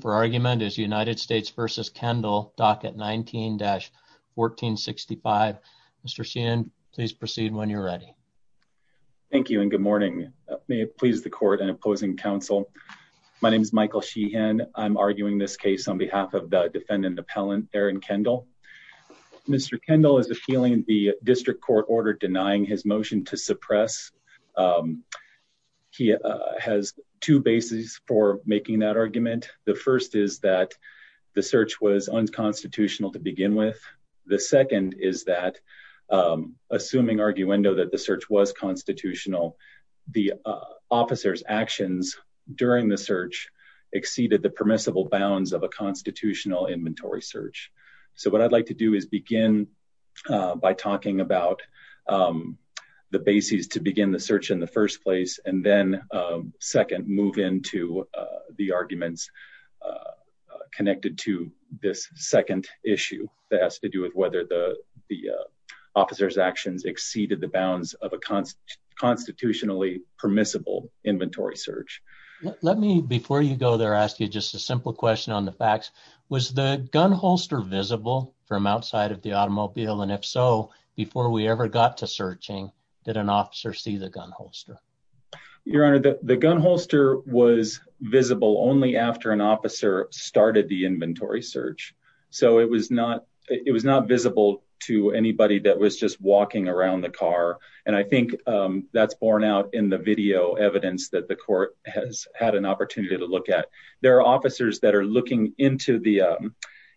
for argument is United States v. Kendall, docket 19-1465. Mr. Sheehan, please proceed when you're ready. Thank you and good morning. May it please the court and opposing counsel, my name is Michael Sheehan. I'm arguing this case on behalf of the defendant appellant Aaron Kendall. Mr. Kendall is appealing the district court order denying his motion to suppress. He has two bases for making that argument. The first is that the search was unconstitutional to begin with. The second is that assuming arguendo that the search was constitutional, the officer's actions during the search exceeded the permissible bounds of a constitutional inventory search. So what I'd like to do is begin by talking about the basis to begin the search in the first place and then second move into the arguments connected to this second issue that has to do with whether the officer's actions exceeded the bounds of a constitutionally permissible inventory search. Let me before you go there ask you just a simple question on the facts. Was the gun holster visible from outside of the automobile and if so, before we ever got to searching, did an officer see the gun holster? Your honor, the gun holster was visible only after an officer started the inventory search. So it was not visible to anybody that was just walking around the car and I think that's borne out in the video evidence that the court has had an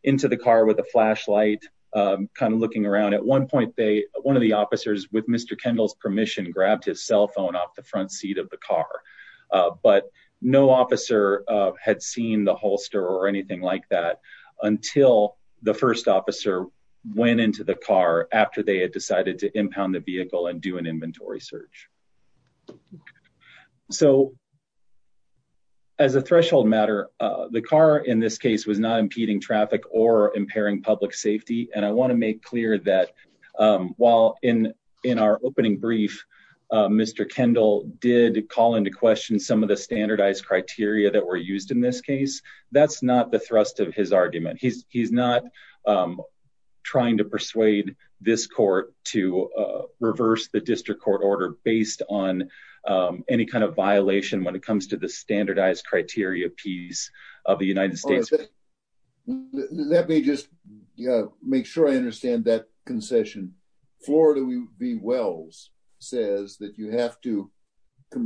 into the car with a flashlight kind of looking around. At one point, one of the officers with Mr. Kendall's permission grabbed his cell phone off the front seat of the car, but no officer had seen the holster or anything like that until the first officer went into the car after they had decided to impound the vehicle and do an inventory search. So as a threshold matter, the car in this case was not impeding traffic or impairing public safety and I want to make clear that while in our opening brief, Mr. Kendall did call into question some of the standardized criteria that were used in this case, that's not the thrust of his argument. He's not trying to persuade this court to reverse the district court order based on any kind of violation when it comes the standardized criteria piece of the United States. Let me just make sure I understand that concession. Florida V Wells says that you have to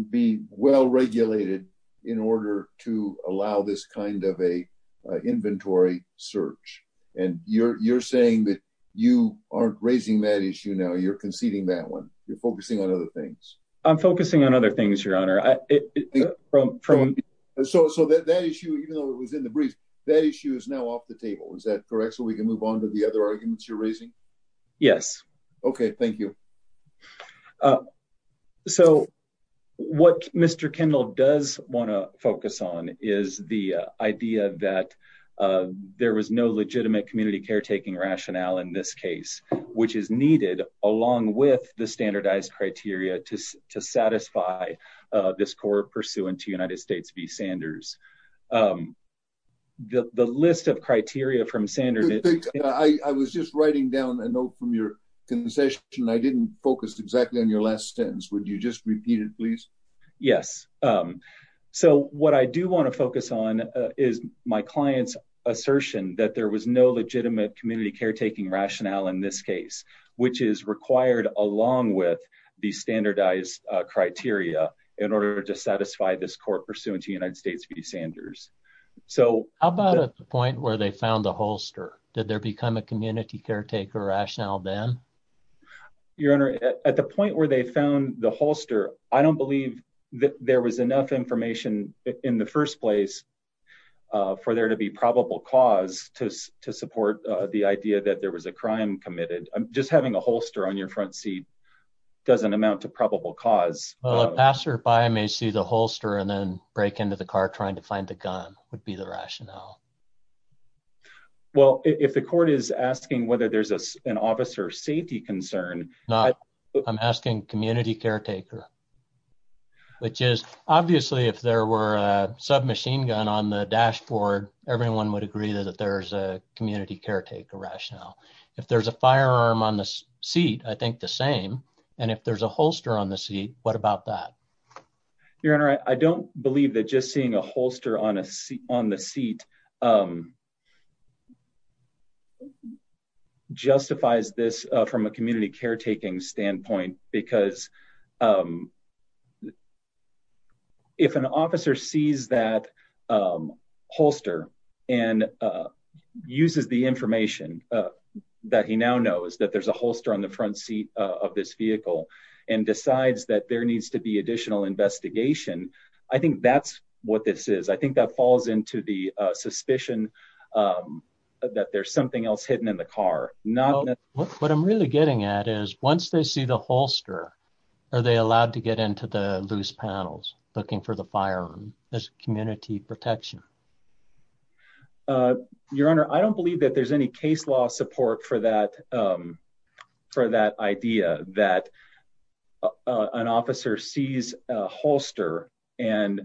be well regulated in order to allow this kind of a inventory search and you're saying that you aren't raising that issue now, you're conceding that one, you're focusing on other things. I'm focusing on other things, your honor. So that issue, even though it was in the brief, that issue is now off the table, is that correct? So we can move on to the other arguments you're raising? Yes. Okay, thank you. So what Mr. Kendall does want to focus on is the idea that there was no legitimate community caretaking rationale in this case, which is needed along with the standardized criteria to satisfy this court pursuant to United States v Sanders. The list of criteria from Sanders. I was just writing down a note from your concession. I didn't focus exactly on your last sentence. Would you just repeat it, please? Yes. So what I do want to focus on is my client's legitimate community caretaking rationale in this case, which is required along with the standardized criteria in order to satisfy this court pursuant to United States v Sanders. So how about at the point where they found the holster? Did there become a community caretaker rationale then your honor at the point where they found the holster? I don't believe that there was the idea that there was a crime committed. Just having a holster on your front seat doesn't amount to probable cause. Well, a passerby may see the holster and then break into the car trying to find the gun would be the rationale. Well, if the court is asking whether there's an officer safety concern. No, I'm asking community caretaker, which is obviously if there were a submachine gun on the dashboard, everyone would agree that there's a community caretaker rationale. If there's a firearm on the seat, I think the same. And if there's a holster on the seat, what about that? Your honor, I don't believe that just seeing a holster on a seat on the seat justifies this from a community caretaking standpoint, because if an officer sees that holster and uses the information that he now knows that there's a holster on the front seat of this vehicle and decides that there needs to be additional investigation, I think that's what this is. I think that falls into the suspicion that there's something else hidden in the car. What I'm really getting at is once they see the are they allowed to get into the loose panels looking for the firearm as community protection? Your honor, I don't believe that there's any case law support for that idea that an officer sees a holster and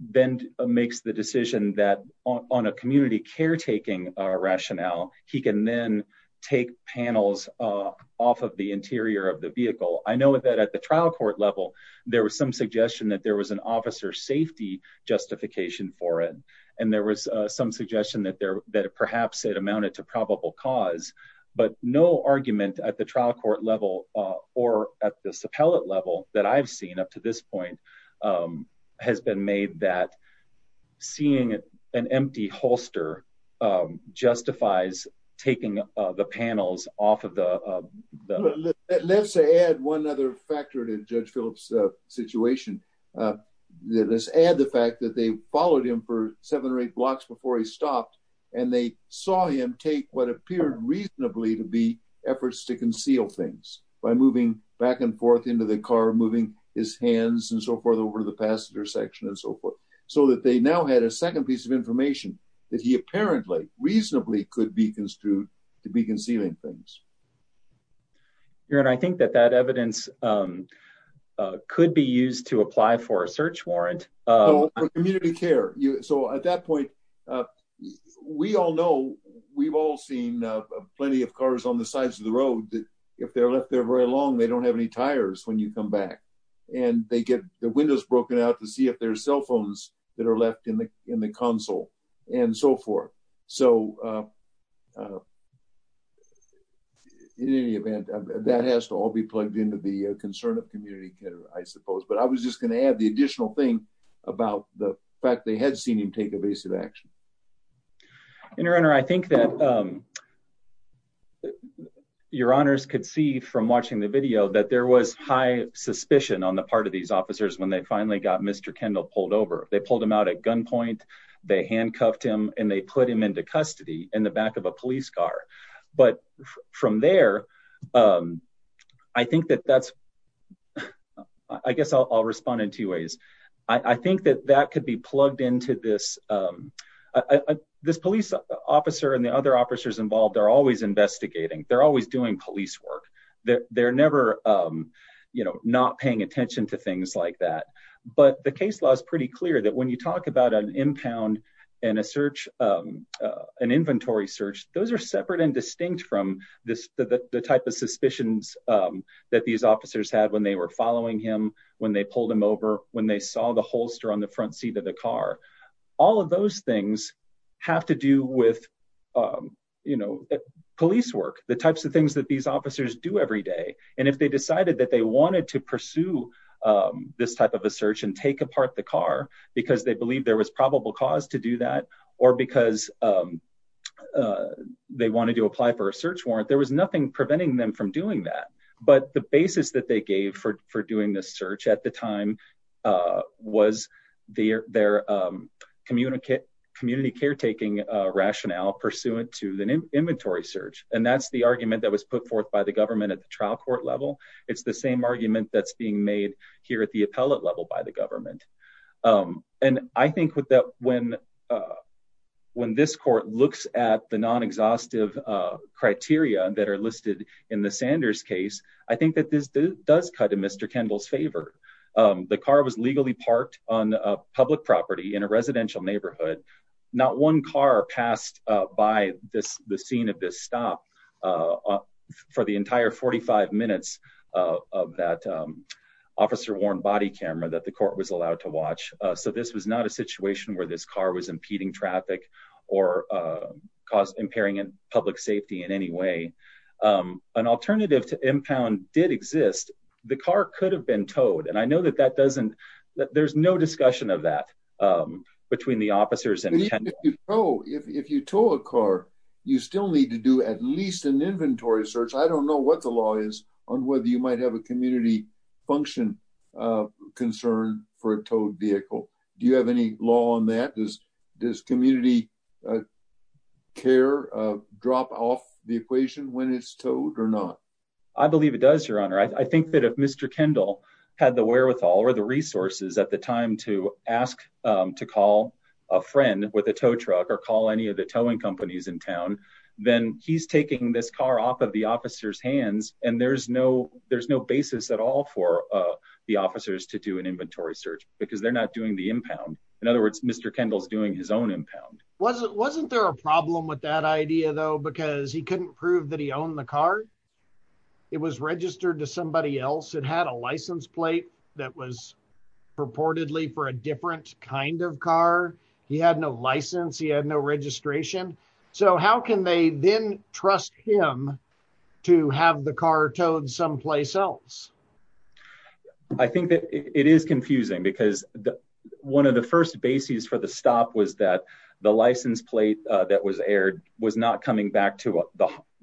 then makes the decision that on a community caretaking rationale, he can then take panels off of the interior of the vehicle. I know that at the trial court level, there was some suggestion that there was an officer safety justification for it. And there was some suggestion that perhaps it amounted to probable cause, but no argument at the trial court level or at the suppellant level that I've seen up to this point has been made that seeing an empty holster justifies taking the panels off of the... Let's add one other factor to Judge Phillips' situation. Let's add the fact that they followed him for seven or eight blocks before he stopped and they saw him take what appeared reasonably to be efforts to conceal things by moving back and forth into the car, moving his hands and so forth to the passenger section and so forth. So that they now had a second piece of information that he apparently reasonably could be construed to be concealing things. Your honor, I think that that evidence could be used to apply for a search warrant. For community care. So at that point, we all know, we've all seen plenty of cars on the sides of the road that if they're left there very long, they don't have any tires when you come back and they get the windows broken out to see if there's cell phones that are left in the console and so forth. So in any event, that has to all be plugged into the concern of community care, I suppose. But I was just going to add the additional thing about the fact they had seen him take evasive action. Your honor, I think that your honors could see from watching the video that there was high suspicion on the part of these officers when they finally got Mr. Kendall pulled over, they pulled him out at gunpoint, they handcuffed him and they put him into custody in the back of a police car. But from there, I think that that's, I guess I'll respond in two ways. I think that that could be plugged into this. This police officer and the other officers involved are investigating. They're always doing police work. They're never not paying attention to things like that. But the case law is pretty clear that when you talk about an impound and an inventory search, those are separate and distinct from the type of suspicions that these officers had when they were following him, when they pulled him over, when they saw the holster on the front seat of the car. All of those things have to do with, you know, police work, the types of things that these officers do every day. And if they decided that they wanted to pursue this type of a search and take apart the car because they believe there was probable cause to do that, or because they wanted to apply for a search warrant, there was nothing preventing them from doing that. But the basis that they gave for doing this search at the time was their community caretaking rationale pursuant to the inventory search. And that's the argument that was put forth by the government at the trial court level. It's the same argument that's being made here at the appellate level by the government. And I think that when this court looks at the non-exhaustive criteria that are listed in the Sanders case, I think that this does cut in Mr. Kendall's favor. The car was legally parked on a public property in a residential neighborhood. Not one car passed by the scene of this stop for the entire 45 minutes of that officer-worn body camera that the court was allowed to watch. So this was not a situation where this car was impeding traffic or cause impairing public safety in any way. An alternative to impound did exist. The car could have been towed. And I know that that doesn't, that there's no discussion of that between the officers and... If you tow a car, you still need to do at least an inventory search. I don't know what the law is on whether you might have a community function concern for a towed car. Does community care drop off the equation when it's towed or not? I believe it does, your honor. I think that if Mr. Kendall had the wherewithal or the resources at the time to ask to call a friend with a tow truck or call any of the towing companies in town, then he's taking this car off of the officer's hands. And there's no basis at all for the officers to do an inventory search because they're not doing the impound. In other words, Mr. Kendall's doing his own impound. Wasn't there a problem with that idea though, because he couldn't prove that he owned the car? It was registered to somebody else. It had a license plate that was purportedly for a different kind of car. He had no license. He had no registration. So how can they then trust him to have the car towed someplace else? I think that it is confusing because one of the first bases for the stop was that the license plate that was aired was not coming back to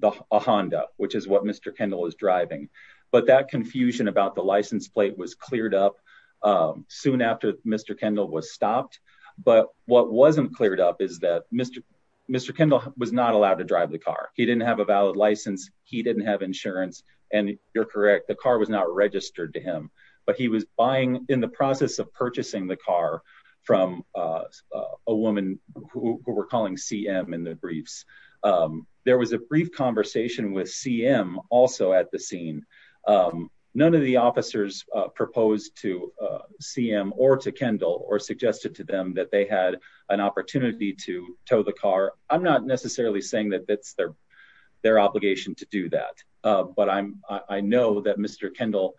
a Honda, which is what Mr. Kendall was driving. But that confusion about the license plate was cleared up soon after Mr. Kendall was stopped. But what wasn't cleared up is that Mr. Kendall was not to drive the car. He didn't have a valid license. He didn't have insurance. And you're correct, the car was not registered to him, but he was buying in the process of purchasing the car from a woman who we're calling CM in the briefs. There was a brief conversation with CM also at the scene. None of the officers proposed to CM or to Kendall or suggested to them that they had an opportunity to tow the car. I'm not necessarily saying that that's their obligation to do that. But I know that Mr. Kendall,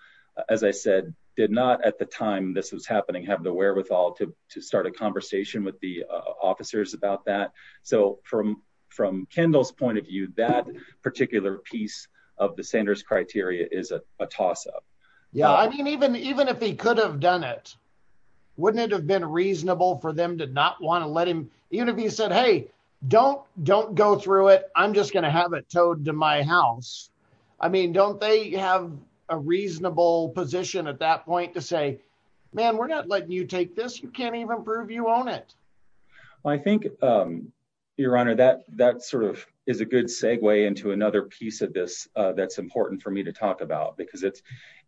as I said, did not at the time this was happening, have the wherewithal to start a conversation with the officers about that. So from Kendall's point of view, that particular piece of the Sanders criteria is a toss up. Yeah, I mean, even even if he could have done it, wouldn't it have been reasonable for them to not want to let him even if he said, hey, don't don't go through it. I'm just going to have it towed to my house. I mean, don't they have a reasonable position at that point to say, man, we're not letting you take this. You can't even prove you own it. I think, Your Honor, that that sort of is a good segue into another piece of this that's important for me to talk about, because it's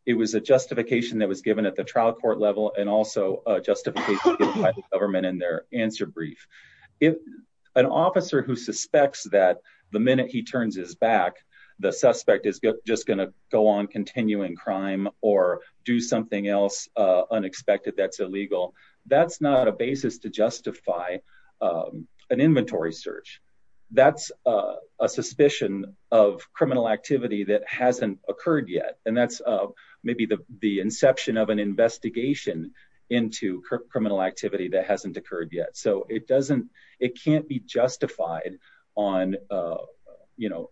it was a justification that was given at the trial court level and also a justification by the government in their answer brief. If an officer who suspects that the minute he turns his back, the suspect is just going to go on continuing crime or do something else unexpected, that's illegal. That's not a basis to justify an inventory search. That's a suspicion of criminal activity that hasn't occurred yet. And that's maybe the inception of an investigation into criminal activity that hasn't occurred yet. So it doesn't it can't be justified on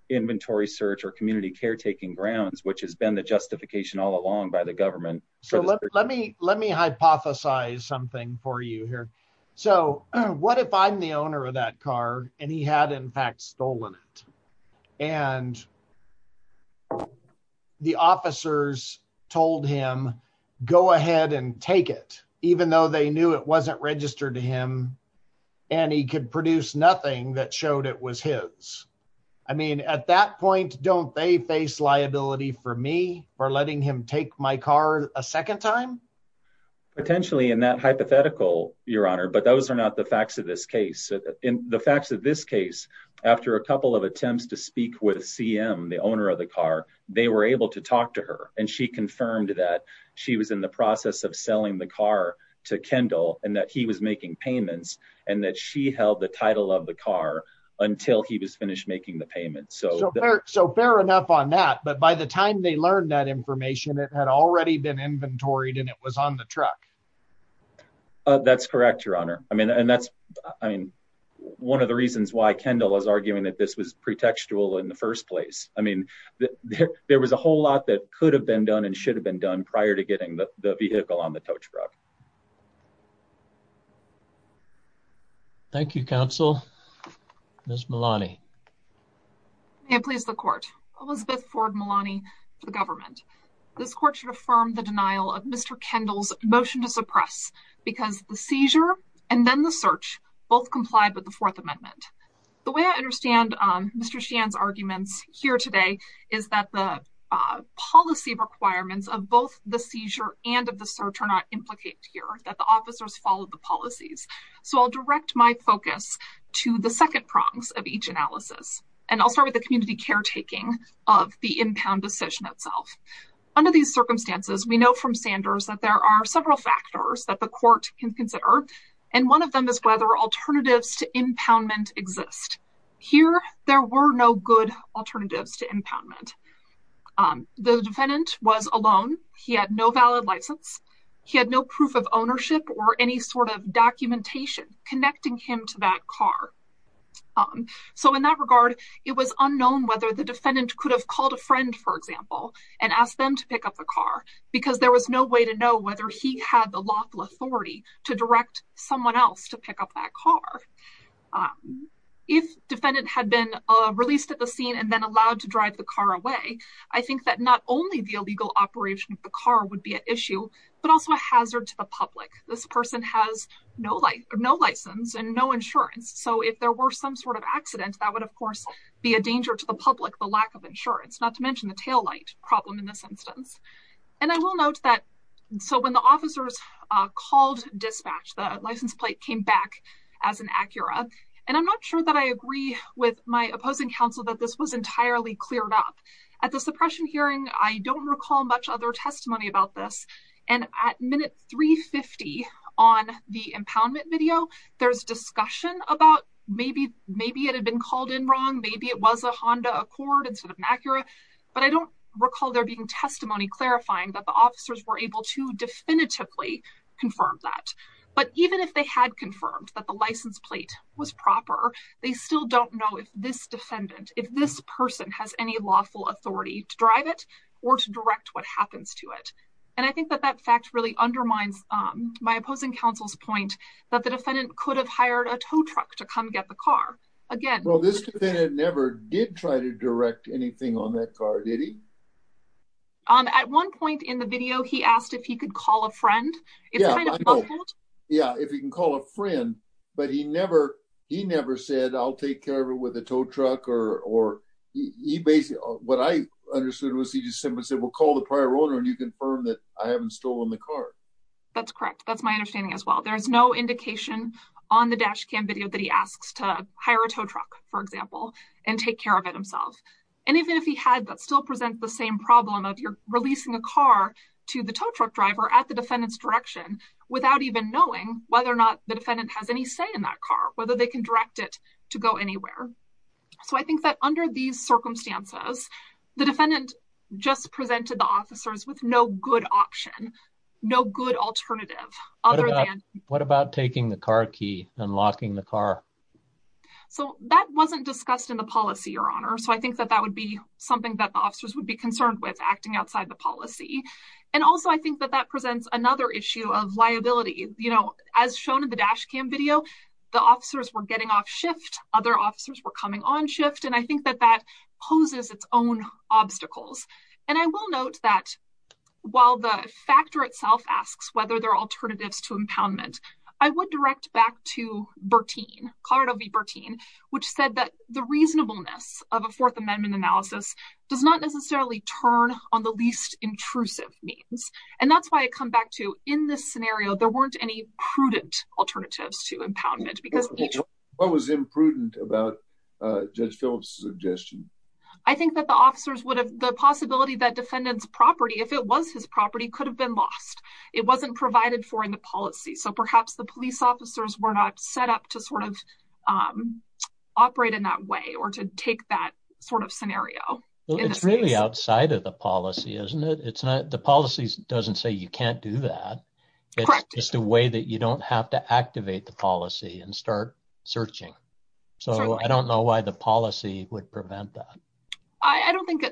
inventory search or community caretaking grounds, which has been the justification all along by the government. So let me let me hypothesize something for you here. So what if I'm the owner of that car and he had, in fact, stolen it and the officers told him, go ahead and take it, even though they knew it wasn't registered to him and he could produce nothing that showed it was his. I mean, at that point, don't they face liability for me for letting him take my car a second time? Potentially in that hypothetical, your honor, but those are not the facts of this case. In the facts of this case, after a couple of attempts to speak with CM, the owner of the car, they were able to talk to her and she confirmed that she was in the process of selling the car to Kendall and that he was making payments and that she held the title of the car until he was finished making the payment. So so fair enough on that. But by the time they learned that information, it had already been inventoried and it was on the truck. That's correct, your honor. I mean, and that's I mean, one of the reasons why Kendall was arguing that this was pretextual in the first place. I mean, there was a whole lot that could have been done and should have been done prior to getting the vehicle on the tow truck. Thank you, counsel. Miss Malani. May it please the court. Elizabeth Ford Malani for the government. This court should affirm the denial of Mr. Kendall's motion to suppress because the seizure and then the search both complied with the Fourth Amendment. The way I understand Mr. Shan's arguments here today is that the policy requirements of both the seizure and of the search are not implicated in the that the officers follow the policies. So I'll direct my focus to the second prongs of each analysis. And I'll start with the community caretaking of the impound decision itself. Under these circumstances, we know from Sanders that there are several factors that the court can consider. And one of them is whether alternatives to impoundment exist. Here, there were no good alternatives to impoundment. The defendant was alone. He had no valid license. He had no proof of ownership or any sort of documentation connecting him to that car. So in that regard, it was unknown whether the defendant could have called a friend, for example, and ask them to pick up the car because there was no way to know whether he had the lawful authority to direct someone else to pick up that car. If defendant had been released at the scene and then allowed to drive the car away, I think that not only the illegal operation of the car would be issue, but also a hazard to the public. This person has no license and no insurance. So if there were some sort of accident, that would, of course, be a danger to the public, the lack of insurance, not to mention the taillight problem in this instance. And I will note that so when the officers called dispatch, the license plate came back as an Acura. And I'm not sure that I agree with my opposing counsel that this was entirely cleared up. At the suppression hearing, I don't recall much other testimony about this. And at minute 350 on the impoundment video, there's discussion about maybe maybe it had been called in wrong. Maybe it was a Honda Accord instead of an Acura. But I don't recall there being testimony clarifying that the officers were able to definitively confirm that. But even if they had confirmed that the license plate was proper, they still don't know if this defendant, if this person has any lawful authority to drive it or to direct what happens to it. And I think that that fact really undermines my opposing counsel's point that the defendant could have hired a tow truck to come get the car. Again, well, this defendant never did try to direct anything on that car, did he? At one point in the video, he asked if he could call a friend. Yeah, if you can call a friend, but he never he never said I'll take care of it with a tow truck or he basically what I understood was he just said we'll call the prior owner and you confirm that I haven't stolen the car. That's correct. That's my understanding as well. There's no indication on the dash cam video that he asks to hire a tow truck, for example, and take care of it himself. And even if he had that still present the same problem of releasing a car to the tow truck driver at the defendant's direction without even knowing whether or not the defendant has any say in that car, whether they can direct it to go anywhere. So I think that under these circumstances, the defendant just presented the officers with no good option, no good alternative. What about taking the car key and locking the car? So that wasn't discussed in the policy, Your Honor. So I think that that would be something that officers would be concerned with acting outside the policy. And also, I think that that the officers were getting off shift. Other officers were coming on shift. And I think that that poses its own obstacles. And I will note that while the factor itself asks whether there are alternatives to impoundment, I would direct back to Bertine, Colorado v. Bertine, which said that the reasonableness of a Fourth Amendment analysis does not necessarily turn on the least intrusive means. And that's why I come back to in this scenario, there weren't any prudent alternatives to impoundment. What was imprudent about Judge Phillips' suggestion? I think that the officers would have the possibility that defendant's property, if it was his property, could have been lost. It wasn't provided for in the policy. So perhaps the police officers were not set up to sort of operate in that way or to take that sort of scenario. It's really outside of the policy, isn't it? The policy doesn't say you can't do that. It's just a way that you don't have to activate the policy and start searching. So I don't know why the policy would prevent that.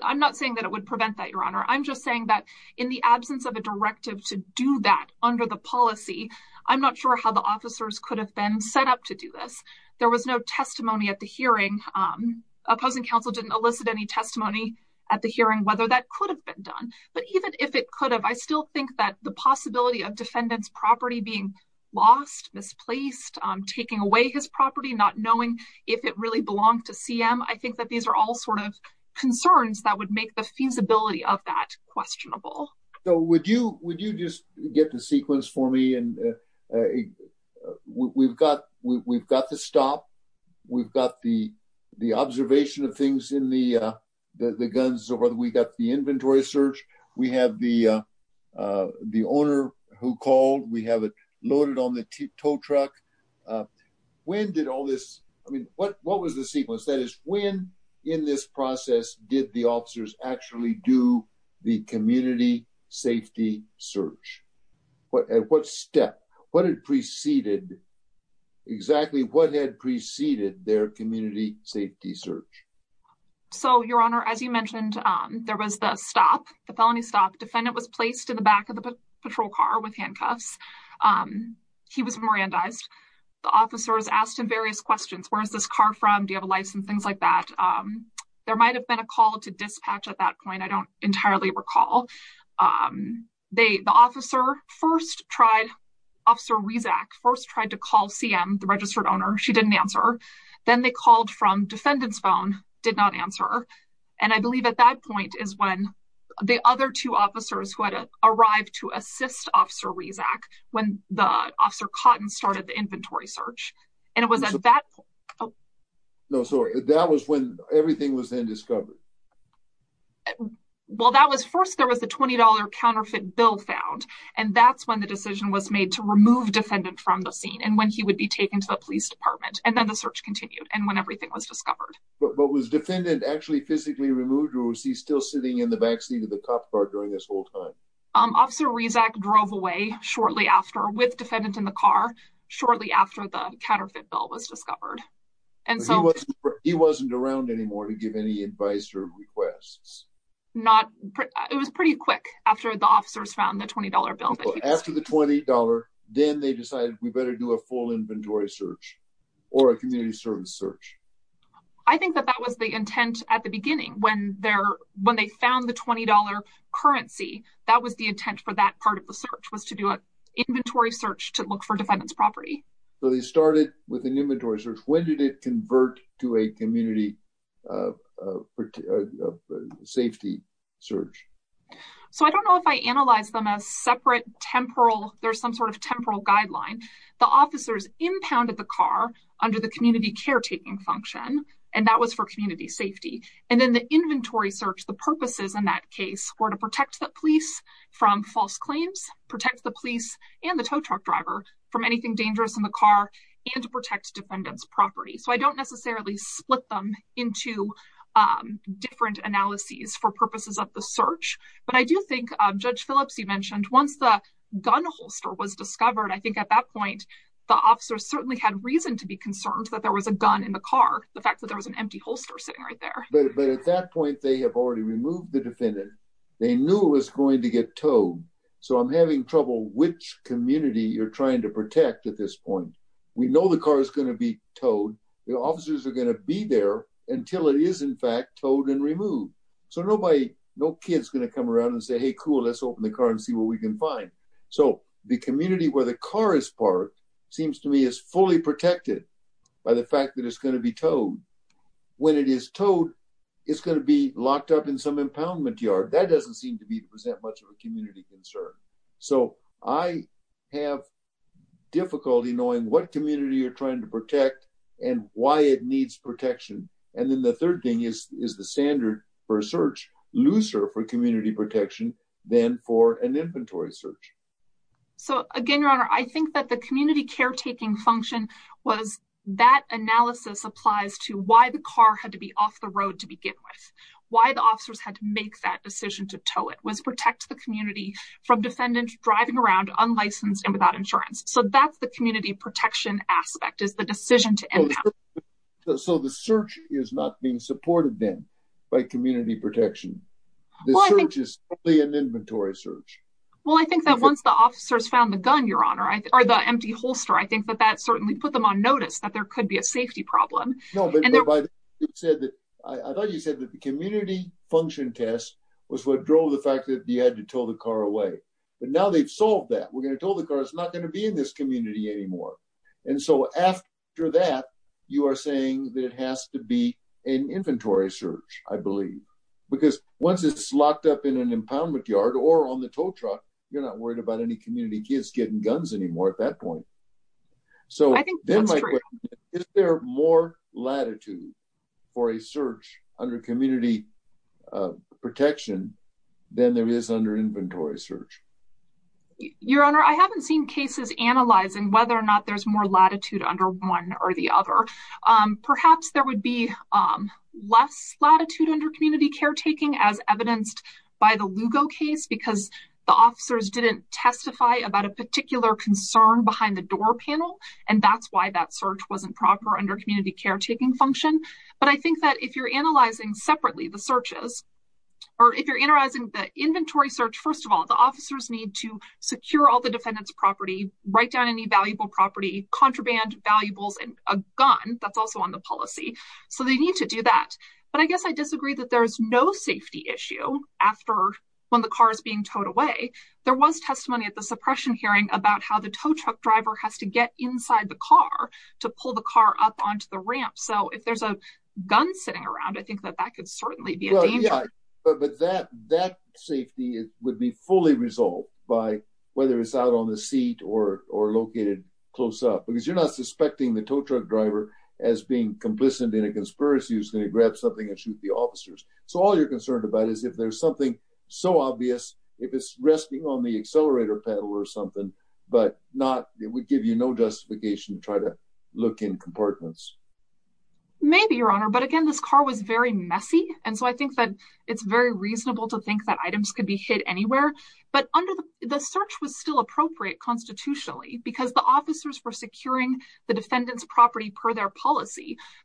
I'm not saying that it would prevent that, Your Honor. I'm just saying that in the absence of a directive to do that under the policy, I'm not sure how the officers could have been set up to do this. There was no testimony at the hearing. Opposing counsel didn't elicit any testimony at the hearing whether that could have been done. But even if it could have, I still think that the possibility of defendant's property being lost, misplaced, taking away his property, not knowing if it really belonged to CM, I think that these are all sort of concerns that would make the feasibility of that questionable. So would you just get the sequence for me? We've got the stop. We've got the observation of things in the guns. We've got the inventory search. We have the owner who called. We have it loaded on the tow truck. When did all this, I mean, what was the sequence? That is, when in this process did the officers actually do the community safety search? At what step? What had preceded exactly what had preceded their community safety search? So your honor, as you mentioned, there was the stop, the felony stop. Defendant was placed in the back of the patrol car with handcuffs. He was Mirandized. The officers asked him various questions. Where is this car from? Do you have a license? Things like that. There might have been a call to dispatch at that point. I don't entirely the registered owner. She didn't answer. Then they called from defendant's phone, did not answer. And I believe at that point is when the other two officers who had arrived to assist officer Rezac, when the officer Cotton started the inventory search. No, sorry. That was when everything was then discovered. Well, that was first, there was a $20 counterfeit bill found. And that's when the decision was made to remove defendant from the scene and when he would be taken to the police department. And then the search continued and when everything was discovered. But was defendant actually physically removed or was he still sitting in the backseat of the cop car during this whole time? Officer Rezac drove away shortly after with defendant in the car shortly after the counterfeit bill was discovered. And so he wasn't around anymore to give any advice or requests? Not, it was pretty quick after the officers found the $20 bill. After the $20, then they decided we better do a full inventory search or a community service search. I think that that was the intent at the beginning when they found the $20 currency. That was the intent for that part of the search was to do an inventory search to look for defendant's property. So they started with an inventory search. When did it convert to a community of safety search? So I don't know if I analyzed them as separate temporal, there's some sort of temporal guideline. The officers impounded the car under the community caretaking function, and that was for community safety. And then the inventory search, the purposes in that case were to protect the police from false claims, protect the police and the tow truck driver from anything dangerous in the car, and to protect defendant's property. So I don't necessarily split them into different analyses for purposes of the search. But I do think Judge Phillips, you mentioned once the gun holster was discovered, I think at that point, the officers certainly had reason to be concerned that there was a gun in the car, the fact that there was an empty holster sitting right there. But at that point, they have already removed the defendant, they knew it was going to get towed. So I'm having trouble which community you're trying to protect at this point. We know the car is going to be towed, the officers are going to be there until it is in fact towed and removed. So nobody, no kid's going to come around and say, hey, cool, let's open the car and see what we can find. So the community where the car is parked, seems to me is fully protected by the fact that it's going to be towed. When it is towed, it's going to be locked up in some concern. So I have difficulty knowing what community you're trying to protect, and why it needs protection. And then the third thing is, is the standard for search looser for community protection than for an inventory search. So again, Your Honor, I think that the community caretaking function was that analysis applies to why the car had to be off the road to begin with, why the officers had to make that decision to tow it was protect the community from defendants driving around unlicensed and without insurance. So that's the community protection aspect is the decision to end. So the search is not being supported, then, by community protection. The search is only an inventory search. Well, I think that once the officers found the gun, Your Honor, or the empty holster, I think that that certainly put them on notice that there could be a safety problem. No, but it said that, I thought you said the community function test was what drove the fact that you had to tow the car away. But now they've solved that we're going to tow the car, it's not going to be in this community anymore. And so after that, you are saying that it has to be an inventory search, I believe, because once it's locked up in an impoundment yard or on the tow truck, you're not worried about any community kids getting guns anymore at that point. So I think there are more latitude for a search under community protection than there is under inventory search. Your Honor, I haven't seen cases analyzing whether or not there's more latitude under one or the other. Perhaps there would be less latitude under community caretaking, as evidenced by the Lugo case, because the officers didn't testify about a particular concern behind the door panel. And that's why that search wasn't proper under community caretaking function. But I think that if you're analyzing separately the searches, or if you're analyzing the inventory search, first of all, the officers need to secure all the defendant's property, write down any valuable property, contraband valuables and a gun that's also on the policy. So they need to do that. But I guess I disagree that there's no safety issue after when the car is being towed away. There was testimony at the suppression hearing about how the tow truck driver has to get inside the car to pull the car up onto the ramp. So if there's a gun sitting around, I think that that could certainly be a danger. But that safety would be fully resolved by whether it's out on the seat or located close up, because you're not suspecting the tow truck driver as being complicit in a conspiracy who's going to grab something and shoot the officers. So all you're concerned about is if there's something so obvious, if it's resting on the accelerator pedal or something, but not it would give you no justification to try to look in compartments. Maybe, Your Honor, but again, this car was very messy. And so I think that it's very reasonable to think that items could be hid anywhere. But under the search was still appropriate constitutionally, because the officers were securing the defendant's property per their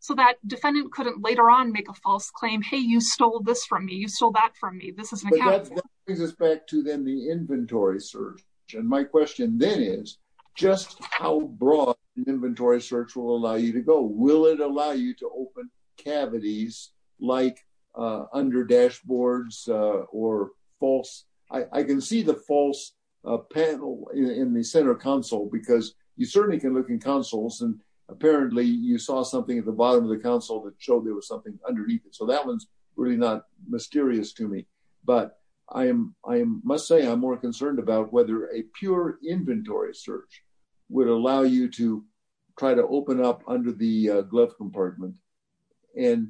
so that defendant couldn't later on make a false claim. Hey, you stole this from me. You stole that from me. This is an account. But that brings us back to then the inventory search. And my question then is just how broad the inventory search will allow you to go. Will it allow you to open cavities like under dashboards or false? I can see the false panel in the center console because you certainly can look in consoles and apparently you saw something at the bottom of the console that showed there was something underneath it. So that one's really not mysterious to me. But I must say I'm more concerned about whether a pure inventory search would allow you to try to open up under the glove compartment. And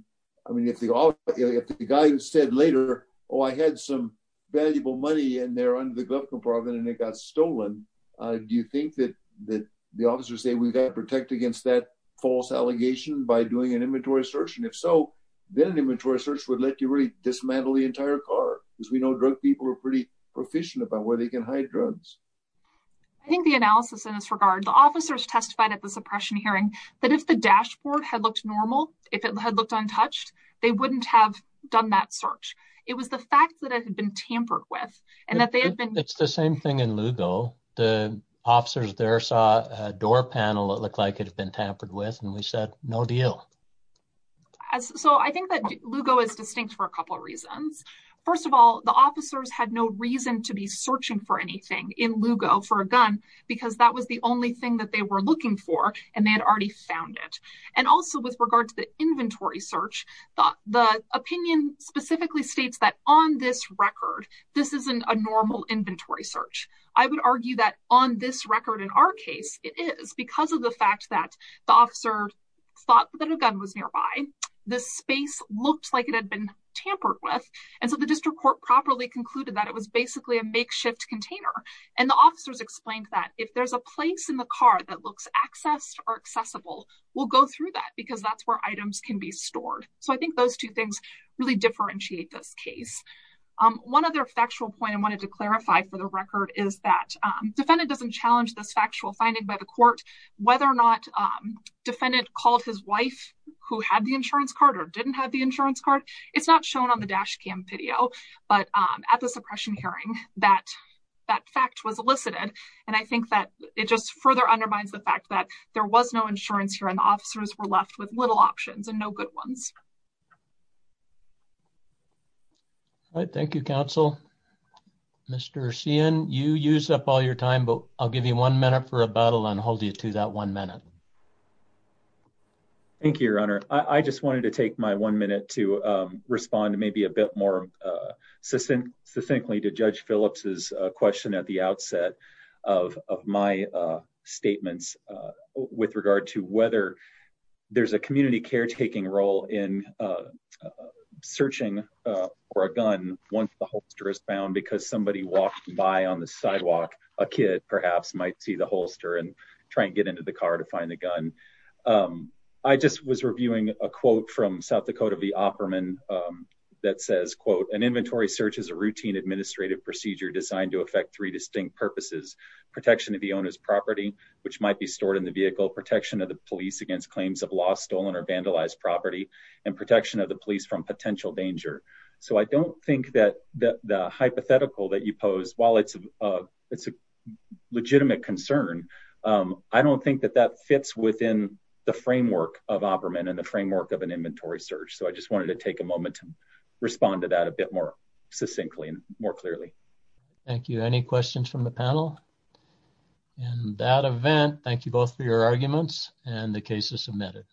I mean, if the guy who said later, oh, I had some valuable money in there under the glove compartment and it got stolen. Do you think that the officers say we've got to protect against that false allegation by doing an inventory search? And if so, then an inventory search would let you really dismantle the entire car because we know drug people are pretty proficient about where they can hide drugs. I think the analysis in this regard, the officers testified at the suppression hearing that if the dashboard had looked normal, if it had looked untouched, they wouldn't have done that search. It was the fact that it had been tampered with and that they had been. It's the same thing in Lugo. The officers there saw a door panel that looked like it had been tampered with and we said, no deal. So I think that Lugo is distinct for a couple of reasons. First of all, the officers had no reason to be searching for anything in Lugo for a gun because that was the only thing that they were looking for and they had already found it. And also with regard to the inventory search, the opinion specifically states that on this record, this isn't a normal inventory search. I would argue that on this record in our case, it is because of the fact that the officer thought that a gun was nearby. The space looked like it had been tampered with. And so the district court properly concluded that it was basically a makeshift container. And the officers explained that if there's a place in the car that looks accessed or accessible, we'll go through that because that's where items can be stored. So I think those two things really differentiate this case. One other factual point I wanted to clarify for the record is that defendant doesn't challenge this factual finding by the court, whether or not defendant called his wife who had the insurance card or didn't have the insurance card. It's not shown on the dash cam video, but at the suppression hearing, that fact was elicited. And I think that it just further undermines the fact that there was no insurance here and little options and no good ones. All right. Thank you, counsel. Mr. Sian, you used up all your time, but I'll give you one minute for a battle and hold you to that one minute. Thank you, Your Honor. I just wanted to take my one minute to respond maybe a bit more succinctly to Judge Phillips's question at the outset of my statements with regard to whether there's a community caretaking role in searching for a gun once the holster is found because somebody walked by on the sidewalk, a kid perhaps might see the holster and try and get into the car to find the gun. I just was reviewing a quote from South Dakota v. Opperman that says, quote, an inventory search is a routine administrative procedure designed to affect three distinct purposes, protection of the owner's property, which might be stored in the vehicle, protection of the police against claims of lost, stolen or vandalized property, and protection of the police from potential danger. So I don't think that the hypothetical that you pose, while it's a legitimate concern, I don't think that that fits within the framework of Opperman and the framework of an inventory search. So I just wanted to take a moment to respond to that a bit more succinctly and more clearly. Thank you. Any questions from the panel? In that event, thank you both for your arguments and the cases submitted.